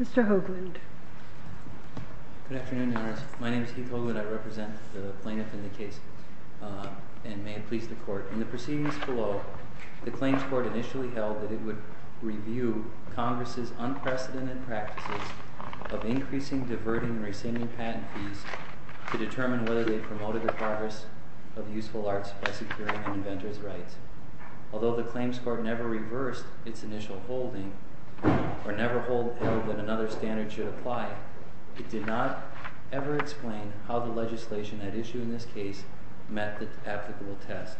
Mr. Hoagland My name is Keith Hoagland I represent the plaintiff in the case and may it please the court. In the proceedings below, the claims court initially held that it would review Congress' unprecedented practices of increasing, diverting, and rescinding patent fees to determine whether they promoted the progress of useful arts by securing an inventor's rights. Although the claims court never reversed its initial holding or never held that another standard should apply, it did not ever explain how the legislation at issue in this case met the applicable test.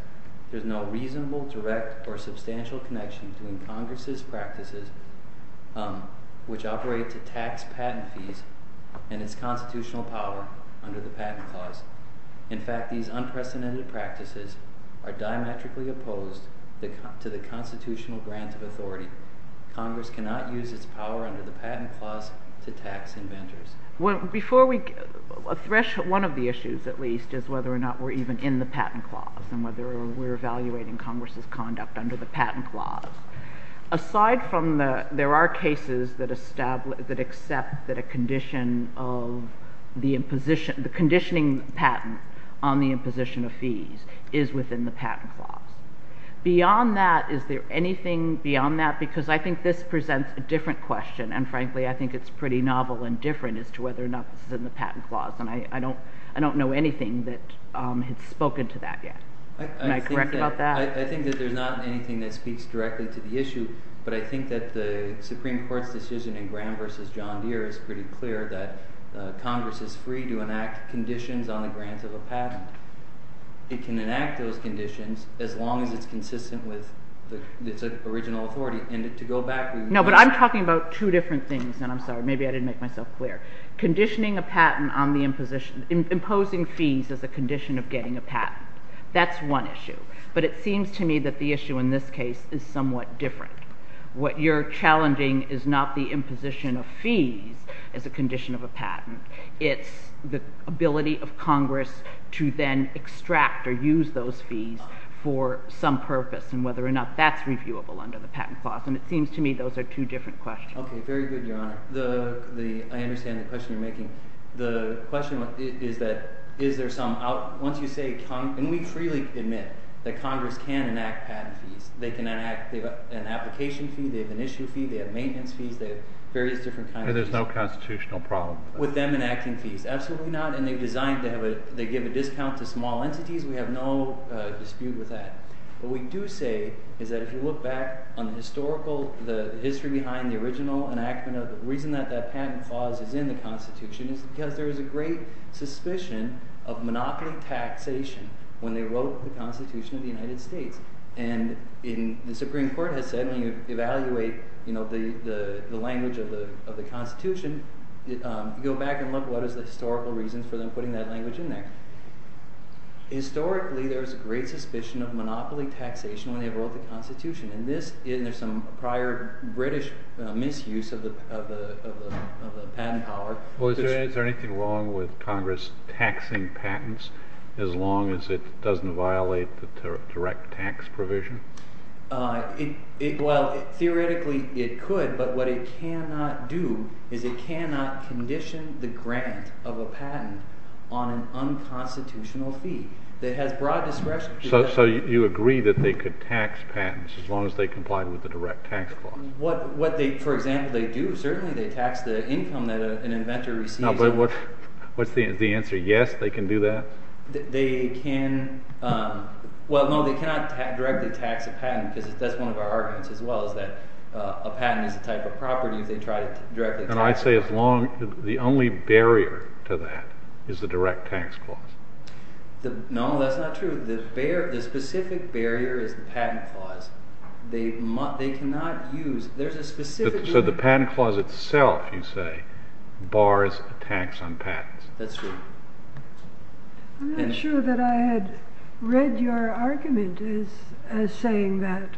There is no reasonable, direct, or substantial connection between Congress' practices, which operate to tax patent fees, and its constitutional power under the Patent Clause. In fact, these unprecedented practices are diametrically opposed to the constitutional grounds of authority. Congress cannot use its power under the Patent Clause to tax inventors. Justice Sotomayor One of the issues, at least, is whether or not we're even in the Patent Clause. Aside from the, there are cases that accept that a condition of the imposition, the conditioning patent on the imposition of fees is within the Patent Clause. Beyond that, is there anything beyond that? Because I think this presents a different question and frankly I think it's pretty novel and different as to whether or not this is in the Patent Clause and I don't know anything that has spoken to that yet. Am I correct about that? I think that there's not anything that speaks directly to the issue, but I think that the Supreme Court's decision in Graham v. John Deere is pretty clear that Congress is free to enact conditions on the grant of a patent. It can enact those conditions as long as it's consistent with its original authority. And to go back, we would not No, but I'm talking about two different things, and I'm sorry, maybe I didn't make myself clear. Conditioning a patent on the imposition, imposing fees as a condition of getting a It seems to me that the issue in this case is somewhat different. What you're challenging is not the imposition of fees as a condition of a patent. It's the ability of Congress to then extract or use those fees for some purpose and whether or not that's reviewable under the Patent Clause. And it seems to me those are two different questions. Okay, very good, Your Honor. I understand the question you're making. The question is that is there somehow, once you say, and we freely admit that Congress can enact patent fees. They can enact an application fee, they have an issue fee, they have maintenance fees, they have various different kinds of fees. And there's no constitutional problem? With them enacting fees? Absolutely not. And they've designed to have a, they give a discount to small entities. We have no dispute with that. What we do say is that if you look back on the historical, the history behind the original enactment of, the reason that that patent clause is in the Constitution is because there is a great suspicion of monopoly taxation when they wrote the Constitution of the United States. And in, the Supreme Court has said when you evaluate, you know, the language of the Constitution, you go back and look what is the historical reasons for them putting that language in there. Historically, there was a great suspicion of monopoly taxation when they wrote the Constitution. And this, there's some prior British misuse of the patent power. Well, is there anything wrong with Congress taxing patents as long as it doesn't violate the direct tax provision? Well, theoretically, it could, but what it cannot do is it cannot condition the grant of a patent on an unconstitutional fee that has broad discretion. So you agree that they could tax patents as long as they complied with the direct tax clause? What they, for example, they do, certainly they tax the income that an inventor receives. No, but what's the answer? Yes, they can do that? They can, well, no, they cannot directly tax a patent because that's one of our arguments as well is that a patent is a type of property if they try to directly tax it. And I'd say as long, the only barrier to that is the direct tax clause. No, that's not true. The specific barrier is the patent clause. They cannot use, there's a specific... So the patent clause itself, you say, bars a tax on patents. That's true. I'm not sure that I had read your argument as saying that.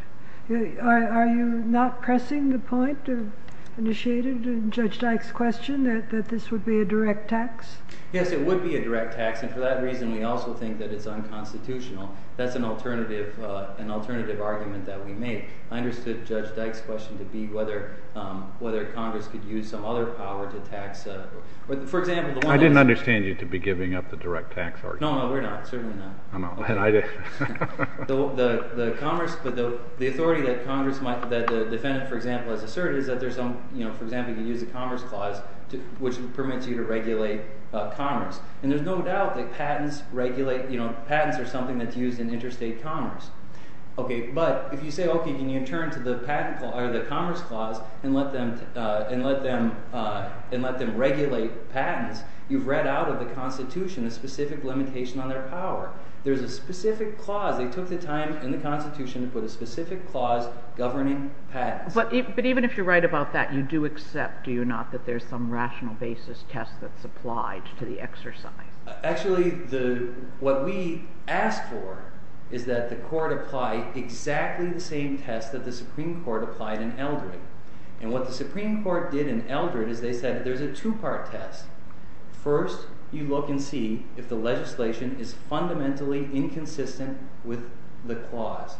Are you not pressing the point of initiated in Judge Dyke's question that this would be a direct tax? Yes, it would be a direct tax. And for that reason, we also think that it's unconstitutional. That's an alternative argument that we made. I understood Judge Dyke's question to be whether Congress could use some other power to tax, for example... I didn't understand you to be giving up the direct tax argument. No, no, we're not, certainly not. I know, and I did. The authority that the defendant, for example, has asserted is that there's some, for example, you use a commerce clause, which permits you to regulate commerce. And there's no doubt that patents are something that's used in interstate commerce. Okay, but if you say, okay, can you turn to the commerce clause and let them regulate patents, you've read out of the Constitution a specific limitation on their power. There's a specific clause. They took the time in the Constitution to put a specific clause governing patents. But even if you're right about that, you do accept, do you not, that there's some rational basis test that's applied to the exercise? Actually, what we asked for is that the court apply exactly the same test that the Supreme Court applied in Eldred. And what the Supreme Court did in Eldred is they said there's a two-part test. First, you look and see if the legislation is fundamentally inconsistent with the clause.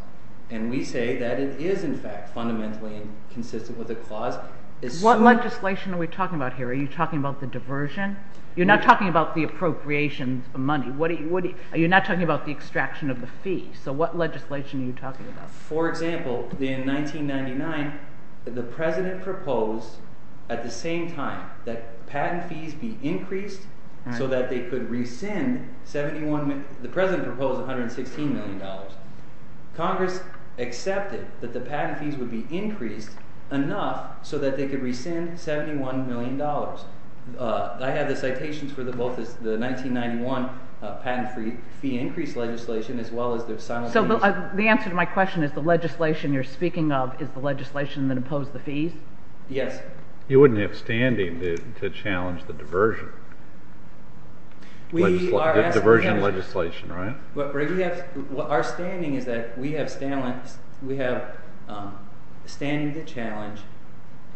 And we say that it is, in fact, fundamentally consistent with the clause. What legislation are we talking about here? Are you talking about the diversion? You're not talking about the appropriations of money. Are you not talking about the extraction of the fee? So what legislation are you talking about? For example, in 1999, the President proposed at the same time that patent fees be increased so that they could rescind $71 million. The President proposed $116 million. Congress accepted that the patent fees would be increased enough so that they could rescind $71 million. I have the citations for both the 1991 patent fee increase legislation as well as the silent fees. So the answer to my question is the legislation you're speaking of is the legislation that opposed the fees? Yes. You wouldn't have standing to challenge the diversion legislation, right? Our standing is that we have standing to challenge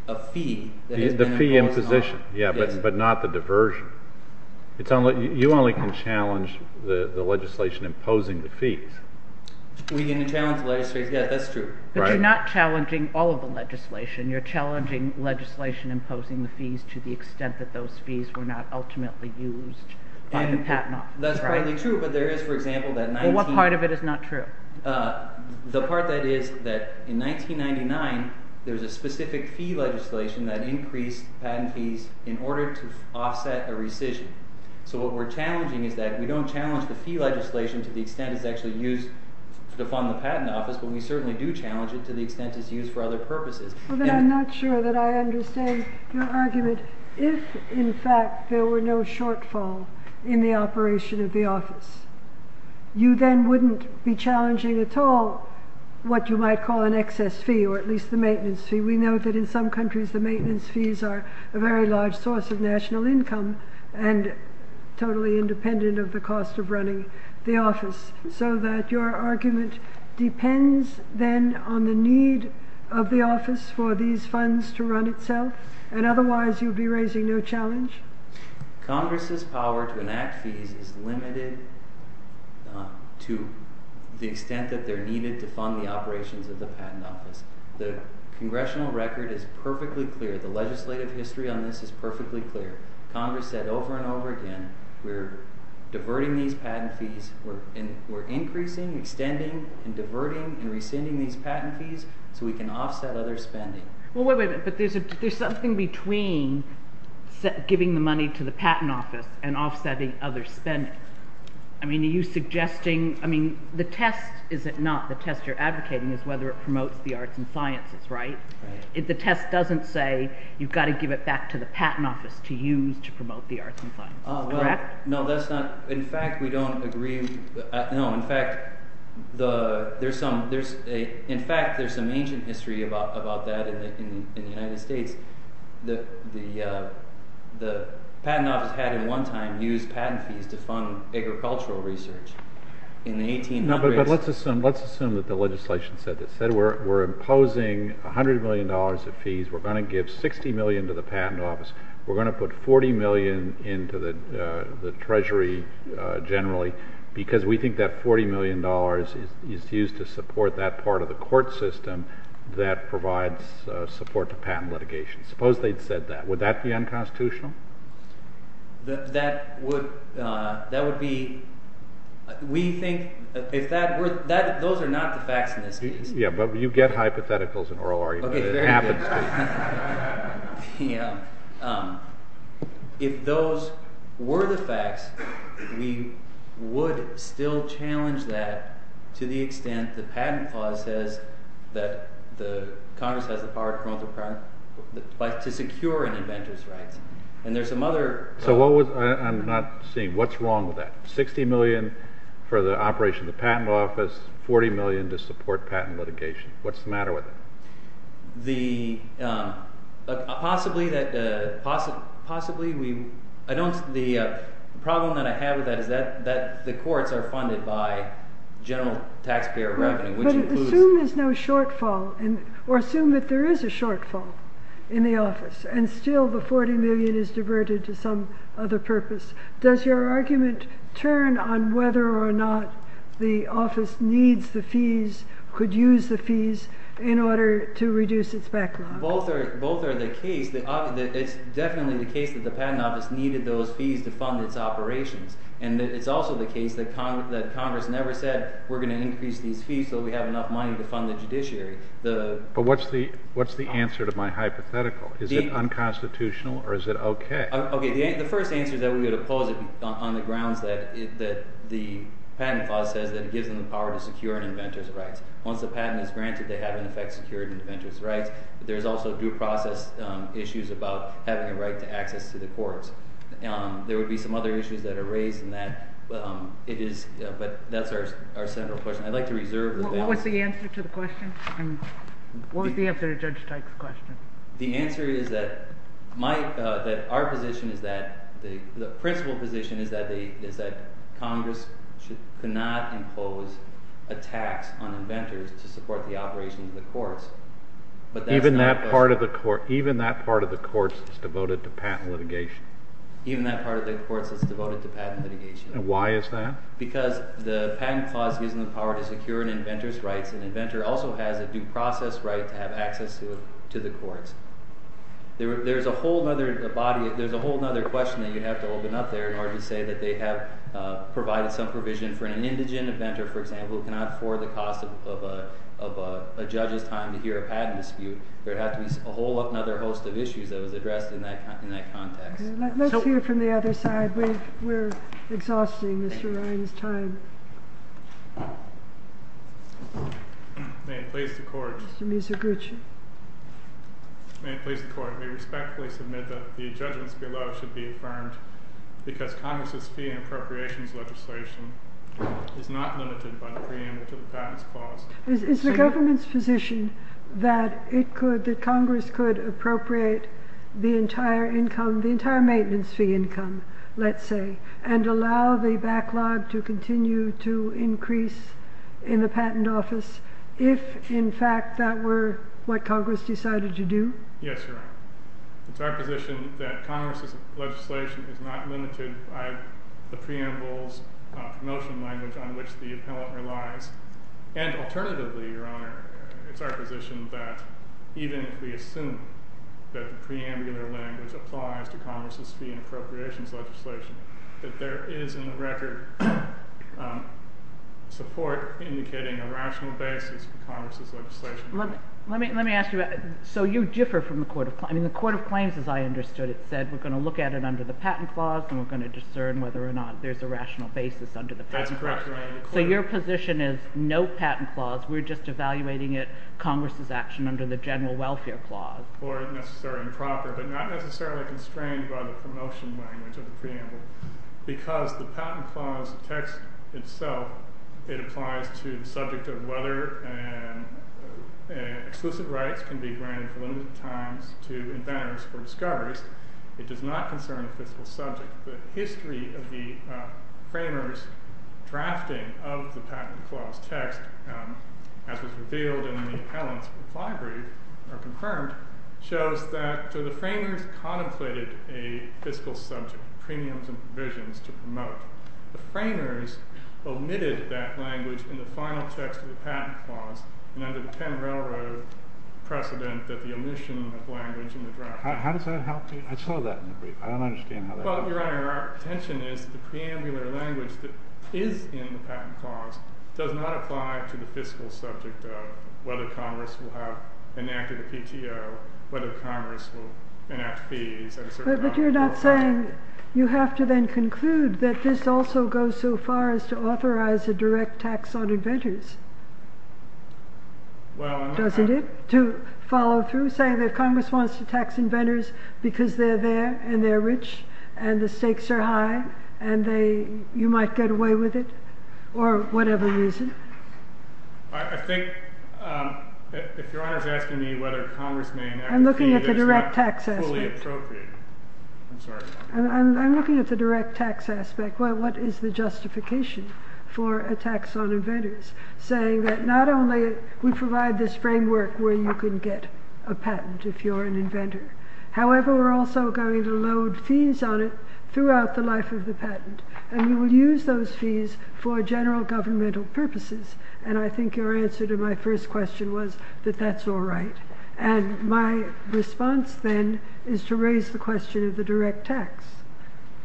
a fee that has been imposed on us. The fee imposition, yes, but not the diversion. You only can challenge the legislation imposing the fees. We can challenge the legislation, yes, that's true. But you're not challenging all of the legislation. You're challenging legislation imposing the fees to the extent that those fees were not ultimately used by the Patent Office, right? That's partly true, but there is, for example, that 19— Well, what part of it is not true? The part that is that in 1999, there was a specific fee legislation that increased patent fees in order to offset a rescission. So what we're challenging is that we don't challenge the fee legislation to the extent it's actually used to fund the Patent Office, but we certainly do challenge it to the extent it's used for other purposes. Well, then I'm not sure that I understand your argument. If, in fact, there were no shortfall in the operation of the office, you then wouldn't be challenging at all what you might call an excess fee, or at least the maintenance fee. We know that in some countries the maintenance fees are a very large source of national income and totally independent of the cost of running the office. So that your argument depends, then, on the need of the office for these funds to run itself, and otherwise you'd be raising no challenge? Congress's power to enact fees is limited to the extent that they're needed to fund the operations of the Patent Office. The congressional record is perfectly clear. The legislative record is that we're diverting these patent fees. We're increasing, extending, and diverting and rescinding these patent fees so we can offset other spending. Well, wait a minute. But there's something between giving the money to the Patent Office and offsetting other spending. I mean, are you suggesting, I mean, the test is it not, the test you're advocating is whether it promotes the arts and sciences, right? If the test doesn't say you've got to give it back to the Patent Office to use to promote the arts and sciences, correct? No, that's not, in fact, we don't agree, no, in fact, there's some, in fact, there's some ancient history about that in the United States. The Patent Office had, in one time, used patent fees to fund agricultural research in the 1800s. No, but let's assume that the legislation said this. It said we're imposing $100 million of fees, we're going to give $60 million to the Patent Office, we're going to put $40 million to the Treasury, generally, because we think that $40 million is used to support that part of the court system that provides support to patent litigation. Suppose they'd said that. Would that be unconstitutional? That would, that would be, we think, if that were, those are not the facts in this case. Yeah, but you get hypotheticals in oral arguments. Very good. If those were the facts, we would still challenge that to the extent the patent clause says that the Congress has the power to secure an inventor's rights. And there's some other... So what was, I'm not seeing, what's wrong with that? $60 million for the operation of the Patent Office, $40 million to support patent litigation. What's the matter with it? The, possibly that, possibly we, I don't, the problem that I have with that is that the courts are funded by general taxpayer revenue, which includes... But assume there's no shortfall, or assume that there is a shortfall in the office, and still the $40 million is diverted to some other purpose. Does your argument turn on whether or not the office needs the fees, could use the fees, in order to reduce its backlog? Both are, both are the case. It's definitely the case that the Patent Office needed those fees to fund its operations. And it's also the case that Congress never said, we're going to increase these fees so we have enough money to fund the judiciary. But what's the, what's the answer to my hypothetical? Is it unconstitutional or is it okay? Okay, the first answer is that we would oppose it on the grounds that it, that the Patent Clause says that it gives them the power to secure an inventor's rights. Once the patent is granted, they have in effect secured inventor's rights. But there's also due process issues about having a right to access to the courts. There would be some other issues that are raised in that, but it is, but that's our central question. I'd like to reserve the balance. What was the answer to the question? I mean, what was the answer to Judge Teich's question? The answer is that my, that our position is that the, the principal position is that the, is that Congress should, cannot impose a tax on inventors to support the operation of the courts. But that's not... Even that part of the court, even that part of the courts is devoted to patent litigation. Even that part of the courts is devoted to patent litigation. And why is that? Because the Patent Clause gives them the power to secure an inventor's rights. An inventor's rights. There, there's a whole other body, there's a whole other question that you'd have to open up there in order to say that they have provided some provision for an indigent inventor, for example, who cannot afford the cost of, of a, of a judge's time to hear a patent dispute. There'd have to be a whole other host of issues that was addressed in that, in that context. Okay, let's hear from the other side. We've, we're exhausting Mr. Ryan's time. May it please the court. Mr. Muzoguchi. May it please the court. We respectfully submit that the judgments below should be affirmed because Congress's fee and appropriations legislation is not limited by the preamble to the Patent's Clause. Is, is the government's position that it could, that Congress could appropriate the entire income, the entire maintenance fee income, let's say, and allow the in the patent office if, in fact, that were what Congress decided to do? Yes, Your Honor. It's our position that Congress's legislation is not limited by the preamble's promotion language on which the appellant relies. And alternatively, Your Honor, it's our position that even if we assume that the preambular language applies to Congress's fee and appropriations legislation, that there is, in the record, support indicating a rational basis for Congress's legislation. Let, let me, let me ask you about, so you differ from the Court of, I mean, the Court of Claims, as I understood it, said we're going to look at it under the Patent Clause, and we're going to discern whether or not there's a rational basis under the Patent Clause. That's correct, Your Honor. So your position is no Patent Clause, we're just evaluating it, Congress's action under the General Welfare Clause. Or necessarily improper, but not necessarily constrained by the promotion language of the preamble. Because the Patent Clause text itself, it applies to the subject of whether, and, and exclusive rights can be granted for limited times to inventors or discoverers. It does not concern the fiscal subject. The history of the framers' drafting of the Patent Clause text, as was revealed in the appellant's reply brief, or confirmed, shows that, so the premiums and provisions to promote. The framers omitted that language in the final text of the Patent Clause, and under the Penn Railroad precedent that the omission of language in the draft. How does that help you? I saw that in the brief. I don't understand how that Well, Your Honor, our intention is the preambular language that is in the Patent Clause does not apply to the fiscal subject of whether Congress will have enacted a PTO, whether Congress will enact fees at a certain time. But you're not saying, you have to then conclude that this also goes so far as to authorize a direct tax on inventors. Well, I'm not. Doesn't it? To follow through, saying that if Congress wants to tax inventors because they're there, and they're rich, and the stakes are high, and they, you might get away with it, or whatever reason. I think, if Your Honor's asking me whether Congress may enact a fee, that's not fully appropriate. I'm sorry. I'm looking at the direct tax aspect. What is the justification for a tax on inventors, saying that not only we provide this framework where you can get a patent if you're an inventor. However, we're also going to load fees on it throughout the life of the patent, and we will use those fees for general governmental purposes. And I think your answer to my first question was that that's all right. And my response, then, is to raise the question of the direct tax,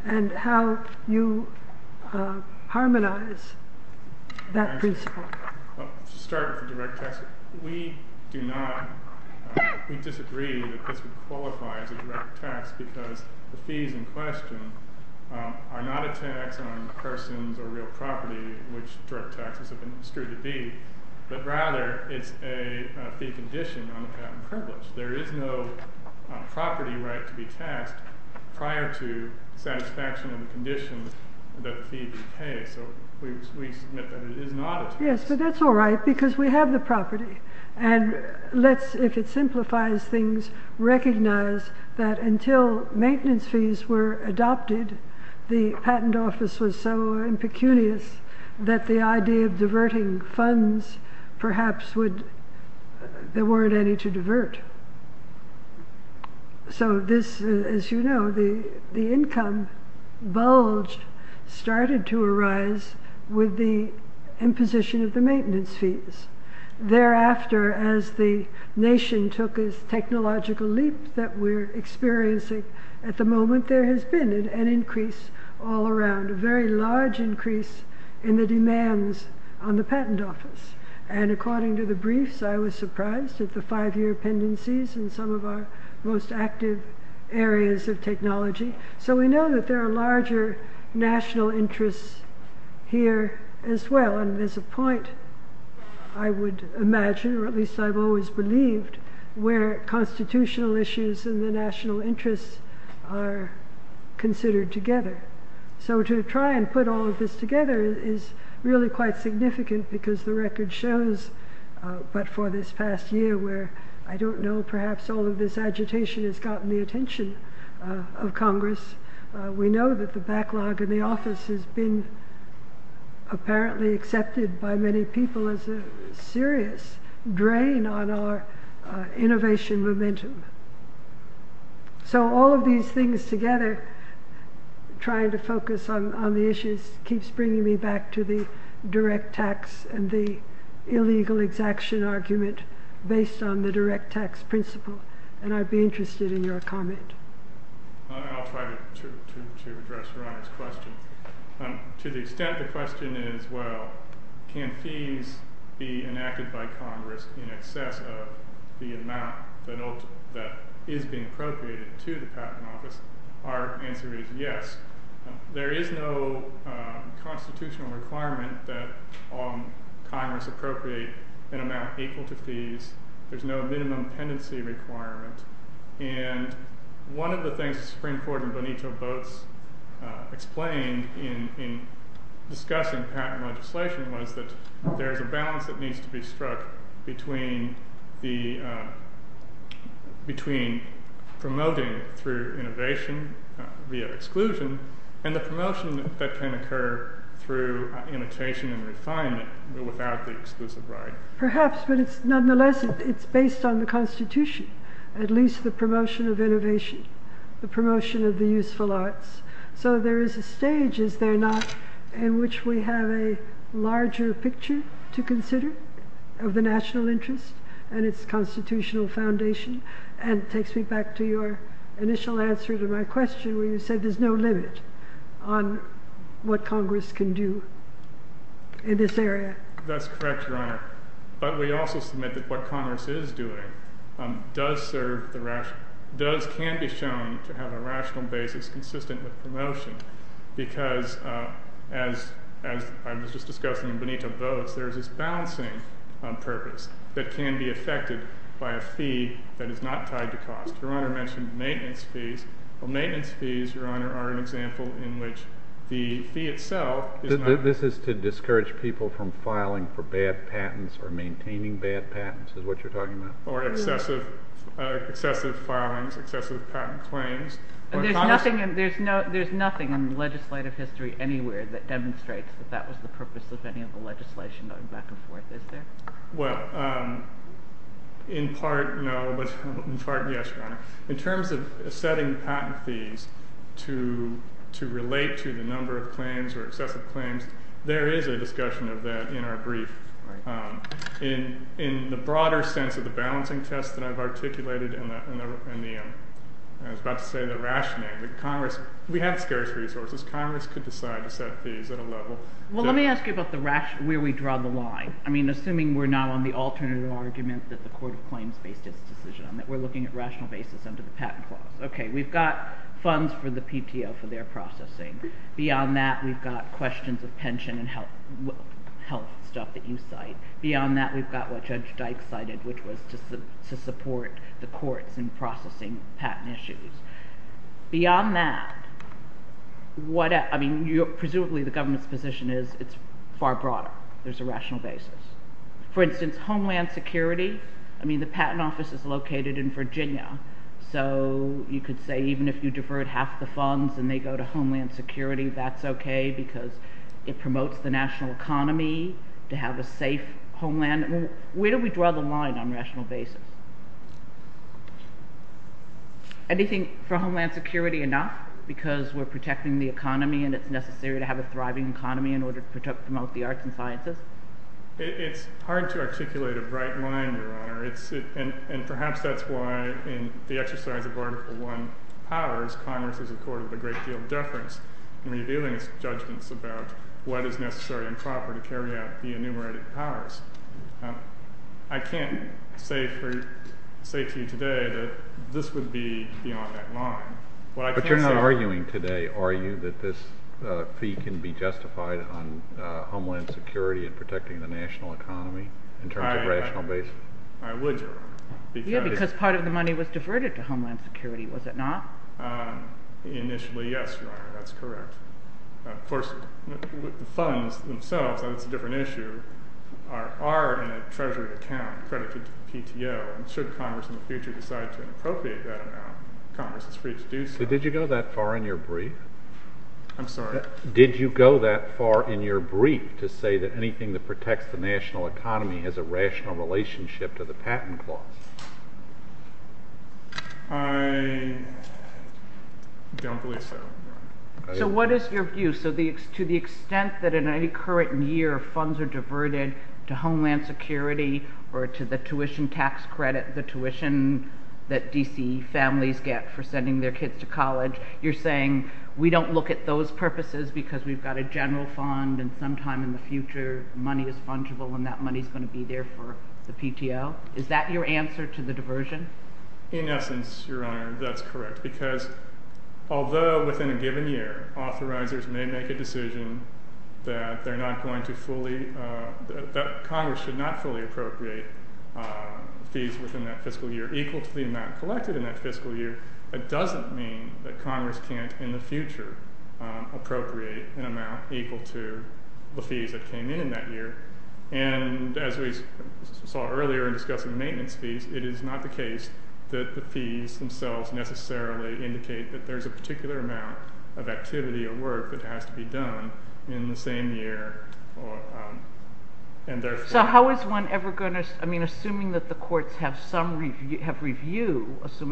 and how you harmonize that principle. Well, to start with the direct tax, we do not, we disagree that this would qualify as a direct tax because the fees in question are not a tax on persons or real property, which direct taxes have been construed to be. But rather, it's a fee condition on the patent privilege. There is no property right to be tasked prior to satisfaction of the condition that the fee be paid. So we submit that it is not a tax. Yes, but that's all right, because we have the property. And let's, if it simplifies things, recognize that until maintenance fees were adopted, the there weren't any to divert. So this, as you know, the income bulge started to arise with the imposition of the maintenance fees. Thereafter, as the nation took this technological leap that we're experiencing, at the moment there has been an increase all around, a very large increase in the demands on the patent office. And according to the briefs, I was surprised at the five year pendencies in some of our most active areas of technology. So we know that there are larger national interests here as well. And there's a point, I would imagine, or at least I've always believed, where constitutional issues and the national interests are considered together. So to try and put all this together is really quite significant because the record shows, but for this past year, where I don't know, perhaps all of this agitation has gotten the attention of Congress, we know that the backlog in the office has been apparently accepted by many people as a serious drain on our innovation momentum. So all of these things together, trying to focus on the issues, keeps bringing me back to the direct tax and the illegal exaction argument based on the direct tax principle. And I'd be interested in your comment. I'll try to address Your Honor's question. To the extent the question is, well, can fees be enacted by Congress in excess of the amount that is being constitutional requirement that Congress appropriate an amount equal to fees, there's no minimum pendency requirement. And one of the things that Supreme Court and Bonito both explained in discussing patent legislation was that there's a balance that needs to be struck between promoting through innovation via exclusion, and the promotion that can occur through annotation and refinement without the exclusive right. Perhaps, but it's nonetheless, it's based on the Constitution, at least the promotion of innovation, the promotion of the useful arts. So there is a stage, is there not, in which we have a larger picture to consider of the national interest and its constitutional foundation? And it takes me back to your initial answer to my question, where you said there's no limit on what Congress can do in this area. That's correct, Your Honor. But we also submit that what Congress is doing does serve the rational, does, can be shown to have a rational basis consistent with promotion. Because as I was just discussing in Bonito votes, there's this fee that is not tied to cost. Your Honor mentioned maintenance fees. Well, maintenance fees, Your Honor, are an example in which the fee itself is not. This is to discourage people from filing for bad patents or maintaining bad patents, is what you're talking about? Or excessive filings, excessive patent claims. There's nothing in legislative history anywhere that demonstrates that that was the purpose of any of the legislation going back and forth, is it? Well, in part, no, but in part, yes, Your Honor. In terms of setting patent fees to relate to the number of claims or excessive claims, there is a discussion of that in our brief. In the broader sense of the balancing test that I've articulated in the, I was about to say the rationing, the Congress, we have scarce resources. Congress could decide to set fees at a level. Well, let me ask you about where we draw the line. I mean, assuming we're not on the alternative argument that the Court of Claims based its decision on, that we're looking at rational basis under the patent clause. Okay, we've got funds for the PTO for their processing. Beyond that, we've got questions of pension and health stuff that you cite. Beyond that, we've got what Judge Dyke cited, which was to support the courts in processing patent issues. Beyond that, I mean, presumably the government's position is it's far broader. There's a rational basis. For instance, homeland security. I mean, the patent office is located in Virginia, so you could say even if you divert half the funds and they go to homeland security, that's okay because it promotes the national economy to have a safe homeland. Where do we draw the line on rational basis? Anything for homeland security enough because we're protecting the economy and it's necessary to have a thriving economy in order to promote the arts and sciences? It's hard to articulate a bright line, Your Honor, and perhaps that's why in the exercise of Article I powers, Congress is in court with a great deal of deference in revealing its judgments about what is necessary and proper to carry out the enumerated powers. I can't say to you today that this would be beyond that But you're not arguing today, are you, that this fee can be justified on homeland security and protecting the national economy in terms of rational basis? I would, Your Honor. Because part of the money was diverted to homeland security, was it not? Initially, yes, Your Honor, that's correct. Of course, the funds themselves, that's a different issue, are in a treasury account credited to the PTO, and should Congress in the future decide to inappropriate that Congress is free to do so. Did you go that far in your brief? I'm sorry? Did you go that far in your brief to say that anything that protects the national economy has a rational relationship to the patent clause? I don't believe so. So what is your view? So to the extent that in any current year funds are diverted to homeland security or to the tuition tax credit, the tuition that D.C. families get for sending their kids to college, you're saying we don't look at those purposes because we've got a general fund and sometime in the future money is fungible and that money is going to be there for the PTO? Is that your answer to the diversion? In essence, Your Honor, that's correct. Because although within a given year authorizers may make a decision that they're not going to fully, that Congress should not fully appropriate fees within that fiscal year, that doesn't mean that Congress can't in the future appropriate an amount equal to the fees that came in in that year. And as we saw earlier in discussing maintenance fees, it is not the case that the fees themselves necessarily indicate that there's a particular amount of activity or work that has to be done in the same year. So how is one ever going to, I mean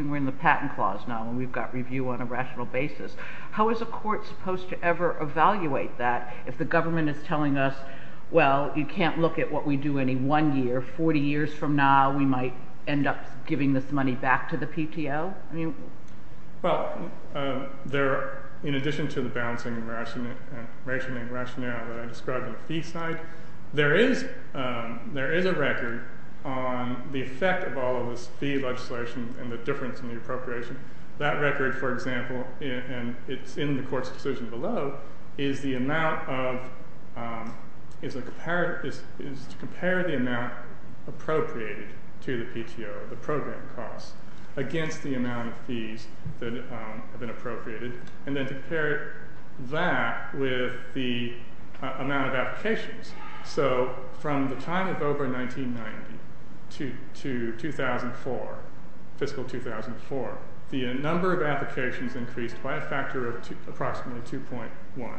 we're in the patent clause now and we've got review on a rational basis, how is a court supposed to ever evaluate that if the government is telling us, well, you can't look at what we do any one year, 40 years from now we might end up giving this money back to the PTO? Well, in addition to the balancing and rationing rationale that I described on the fee side, there is a record on the effect of all of this fee legislation and the difference in the appropriation. That record, for example, and it's in the court's decision below, is to compare the amount appropriated to the PTO, the program cost, against the amount of fees that have been appropriated and then compare that with the amount of applications. So from the time of OBRA 1990 to 2004, fiscal 2004, the number of applications increased by a factor of approximately 2.1.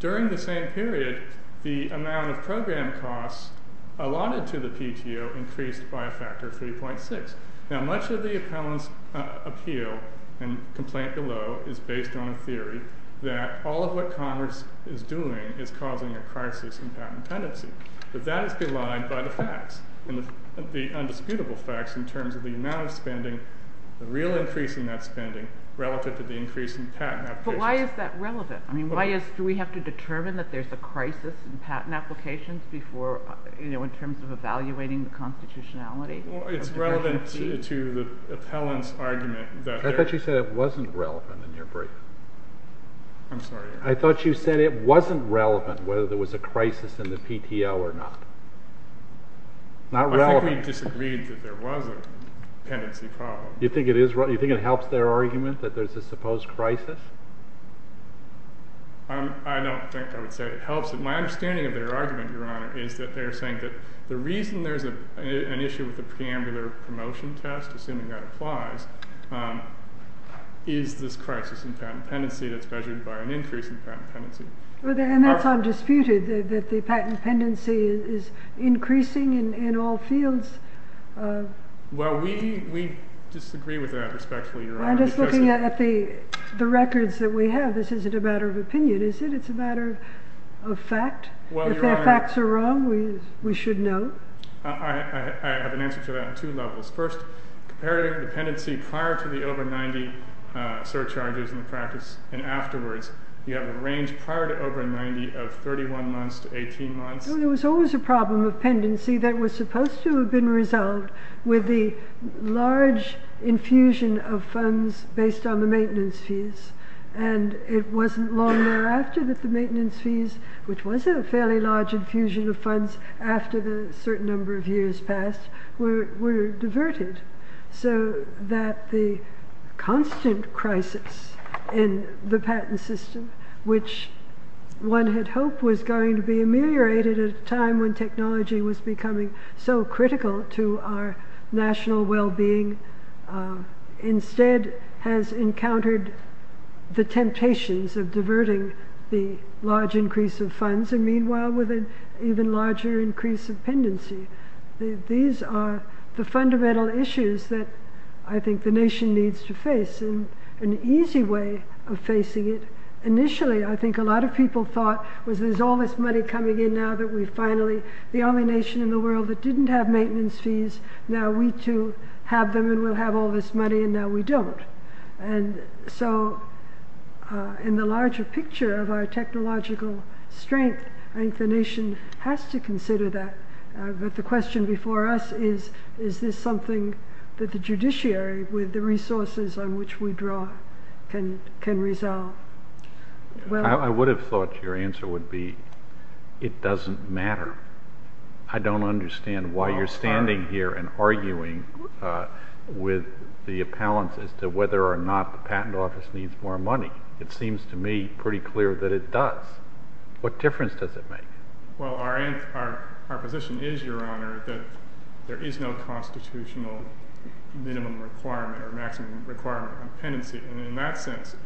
During the same period, the amount of program costs allotted to the PTO increased by a factor of 3.6. Now much of the appellant's appeal and complaint below is based on a theory that all of what happened was a crisis in patent tendency. But that is belied by the facts, the undisputable facts in terms of the amount of spending, the real increase in that spending relative to the increase in patent applications. But why is that relevant? I mean, why is, do we have to determine that there's a crisis in patent applications before, you know, in terms of evaluating the constitutionality? Well, it's relevant to the appellant's argument that there's... I thought you said it wasn't relevant in your brief. I'm sorry? I thought you said it wasn't relevant whether there was a crisis in the PTO or not. Not relevant. I think we disagreed that there was a patency problem. You think it is relevant? You think it helps their argument that there's a supposed crisis? I don't think I would say it helps. My understanding of their argument, Your Honor, is that they're saying that the reason there's an issue with the preambular promotion test, assuming that applies, is this crisis in patent pendency. And that's undisputed, that the patent pendency is increasing in all fields. Well, we disagree with that, respectfully, Your Honor. I'm just looking at the records that we have. This isn't a matter of opinion, is it? It's a matter of fact. If their facts are wrong, we should know. I have an answer to that on two levels. First, comparing the pendency prior to the over 90 surcharges in the practice, and afterwards, you have a range prior to over 90 of 31 months to 18 months. There was always a problem of pendency that was supposed to have been resolved with the large infusion of funds based on the maintenance fees. And it wasn't long thereafter that the maintenance fees, which was a fairly large infusion of funds after the certain number of years passed, were in the patent system, which one had hoped was going to be ameliorated at a time when technology was becoming so critical to our national well-being, instead has encountered the temptations of diverting the large increase of funds, and meanwhile, with an even larger increase of pendency. These are the fundamental issues that I think the nation needs to face, and an easy way of facing it. Initially, I think a lot of people thought, was there's all this money coming in now that we finally, the only nation in the world that didn't have maintenance fees, now we too have them, and we'll have all this money, and now we don't. And so, in the larger picture of our technological strength, I think the nation has to consider that. But the question before us is, is this something that the judiciary, with the resources on which we draw, can resolve? Well, I would have thought your answer would be, it doesn't matter. I don't understand why you're standing here and arguing with the appellants as to whether or not the patent office needs more money. It seems to me pretty clear that it does. What difference does it make? Well, our position is, your honor, that there is no constitutional minimum requirement or maximum requirement on pendency, and in that sense,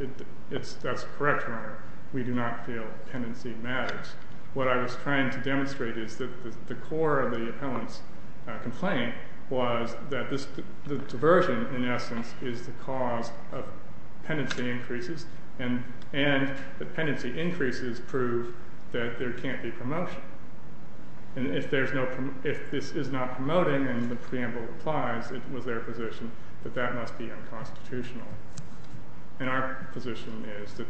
that's correct, your honor. We do not feel pendency matters. What I was trying to demonstrate is that the core of the appellant's complaint was that the diversion, in essence, is the cause of pendency increases, and the pendency increases prove that there can't be promotion. And if there's no, if this is not promoting and the preamble applies, it was their position that that must be unconstitutional. And our position is that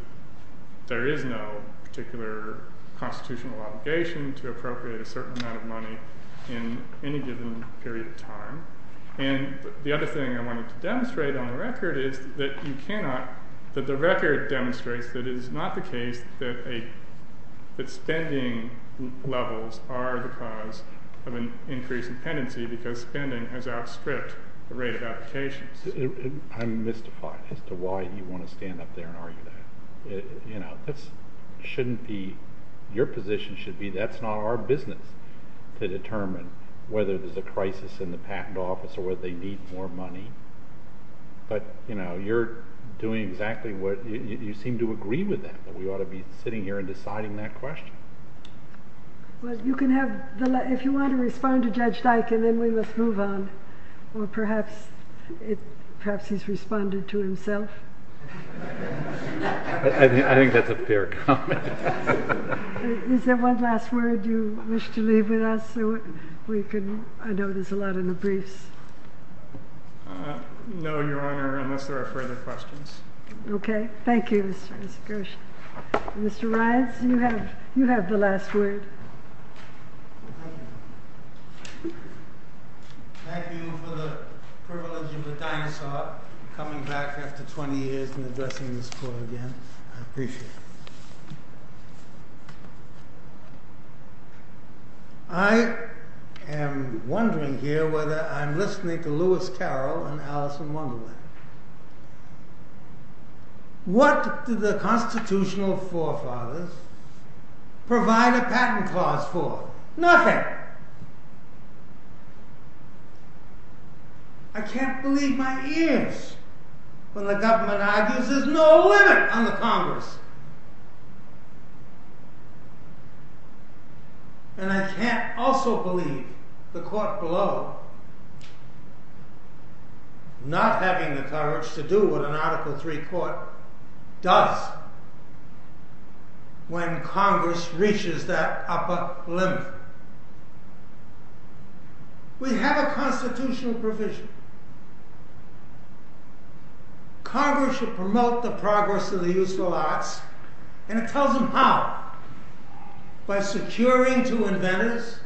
there is no particular constitutional obligation to appropriate a certain amount of money in any given period of time. And the other thing I wanted to demonstrate on the record is that you think that spending levels are the cause of an increase in pendency because spending has outstripped the rate of applications. I'm mystified as to why you want to stand up there and argue that. This shouldn't be, your position should be, that's not our business to determine whether there's a crisis in the patent office or whether they need more money. But you're doing exactly what, you seem to agree with that. But we ought to be sitting here and deciding that question. Well, you can have the, if you want to respond to Judge Dyke and then we must move on. Or perhaps it, perhaps he's responded to himself. I think that's a fair comment. Is there one last word you wish to leave with us so we can, I know there's a lot in the briefs. No, Your Honor, unless there are further questions. Okay. Thank you. Mr. Ryan, you have, you have the last word. Thank you for the privilege of the dinosaur coming back after 20 years and addressing the school again. I appreciate it. I am wondering here whether I'm listening to Lewis Carroll and Allison Wunderland. What did the constitutional forefathers provide a patent clause for? Nothing. I can't believe my ears when the government argues there's no limit on the Congress. And I can't also believe the court below not having the courage to do what an article three court does when Congress reaches that upper limit. We have a constitutional provision. Congress should promote the progress of the useful arts and it tells them how, by securing to inventors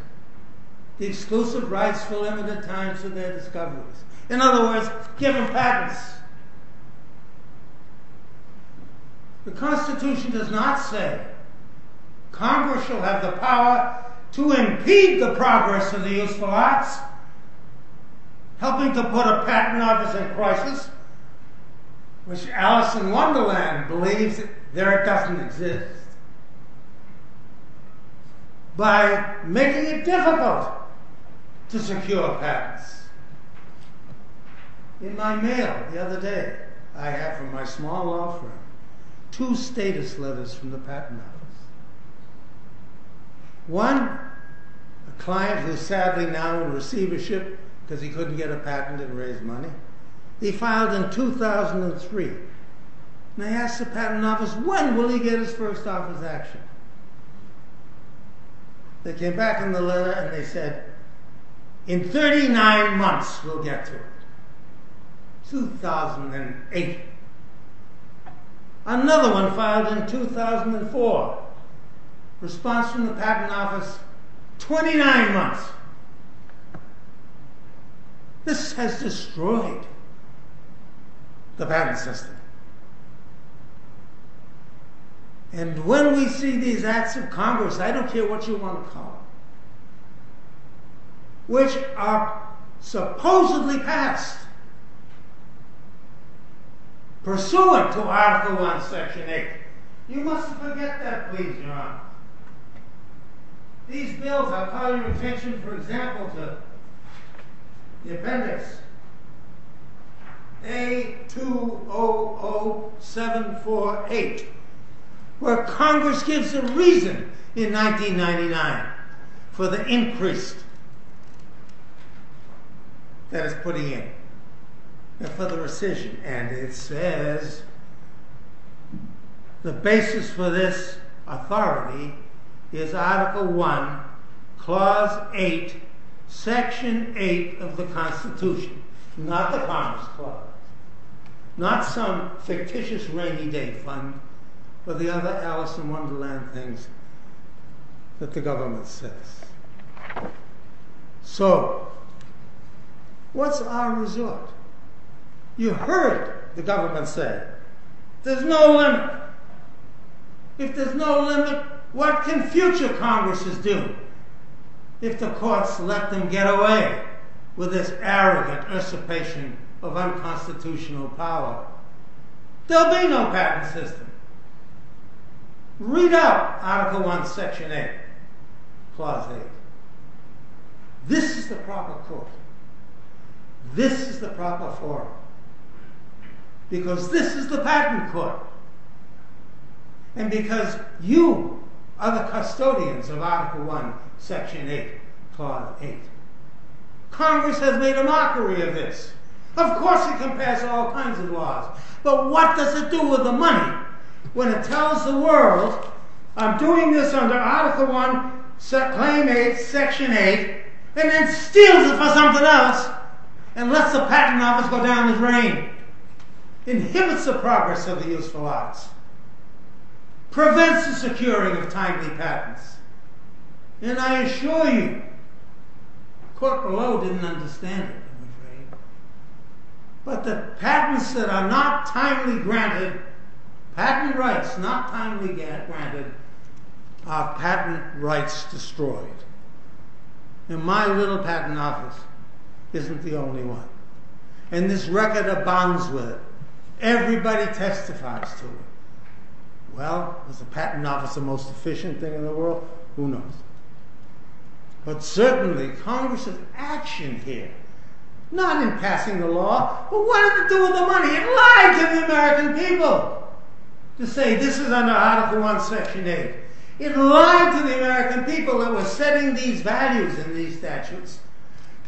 the exclusive rights for limited time to their discoveries. In other words, give them patents. The Constitution does not say Congress shall have the power to impede the progress of the useful arts, helping to put a patent office in crisis, which Allison Wunderland believes there doesn't exist. By making it difficult to secure patents. In my mail the other day, I have from my small law firm two status letters from the patent office. One, a client who sadly now will receive a ship because he couldn't get a patent and raise money. He filed in 2003. And I asked the patent office, when will he get his first office action? They came back in the letter and they said, in 39 months we'll get to it. 2008. Another one filed in 2004. Response from the patent office, 29 months. This has destroyed the patent system. And when we see these acts of Congress, I don't care what you want to call them, which are supposedly passed, pursuant to Article 1, Section 8. These bills, I'll call your attention, for example, to the appendix A200748, where Congress gives a reason in 1999 for the increase that it's putting in, for the rescission. And it says, the basis for this authority is Article 1, Clause 8, Section 8 of the Constitution. Not the Commerce Clause. Not some fictitious rainy day fund, but the other Allison Wunderland things that the government says. So, what's our result? You heard the government say, there's no limit. If there's no limit, what can future Congresses do? If the courts let them get away with this arrogant usurpation of unconstitutional power, there'll be no patent system. Read up Article 1, Section 8, Clause 8. This is the proper court. This is the proper forum. Because this is the patent court. And because you are the custodians of Article 1, Section 8, Clause 8. Congress has made a mockery of this. Of course it can pass all kinds of laws. But what does it do with the money, when it tells the world, I'm doing this under Article 1, Claim 8, Section 8, and then steals it for something else, and lets the patent office go down the drain. Inhibits the progress of the useful arts. Prevents the securing of timely patents. And I assure you, the court below didn't understand it. But the patents that are not timely granted, patent rights not timely granted, are patent rights destroyed. And my little patent office isn't the only one. And this record of bonds with it, everybody testifies to it. Well, is the patent office the most efficient thing in the world? Who knows. But certainly, Congress's action here, not in passing the law, but what does it do with the money? It lied to the American people to say this is under Article 1, Section 8. It lied to the American people that we're setting these values in these statutes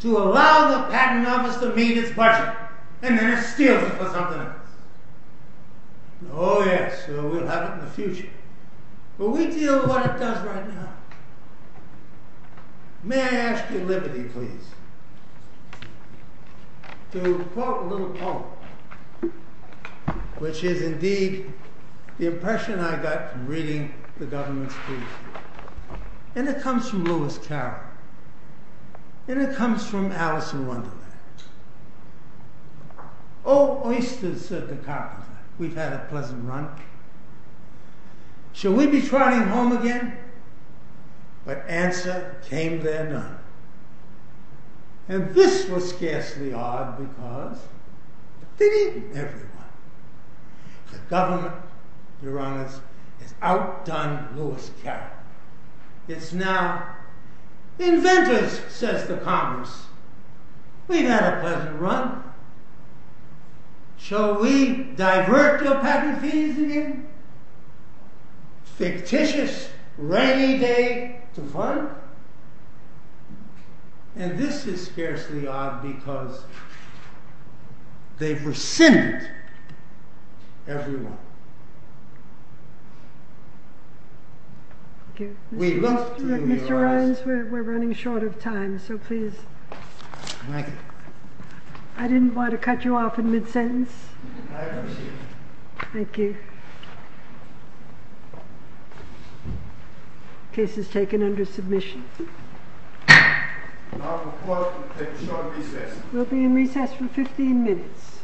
to allow the patent office to meet its budget, and then it steals it for something else. Oh yes, so we'll have it in the future. But we deal with what it does right now. May I ask your liberty, please, to quote a little poem, which is indeed the impression I got from reading the government's piece. And it comes from Lewis Carroll. And it comes from Alice in Wonderland. Oh oysters, said the carpenter, we've had a pleasant run. Shall we be trotting home again? But answer came there none. And this was scarcely odd because they'd eaten everyone. The government, your honors, has outdone Lewis Carroll. It's now, inventors, says the Congress, we've had a pleasant run. Shall we divert your patent fees again? Fictitious, rainy day to fund? And this is scarcely odd because they've rescinded everyone. Thank you. Mr. Ryans, we're running short of time, so please. I didn't want to cut you off in mid-sentence. Thank you. Case is taken under submission. We'll be in recess for 15 minutes.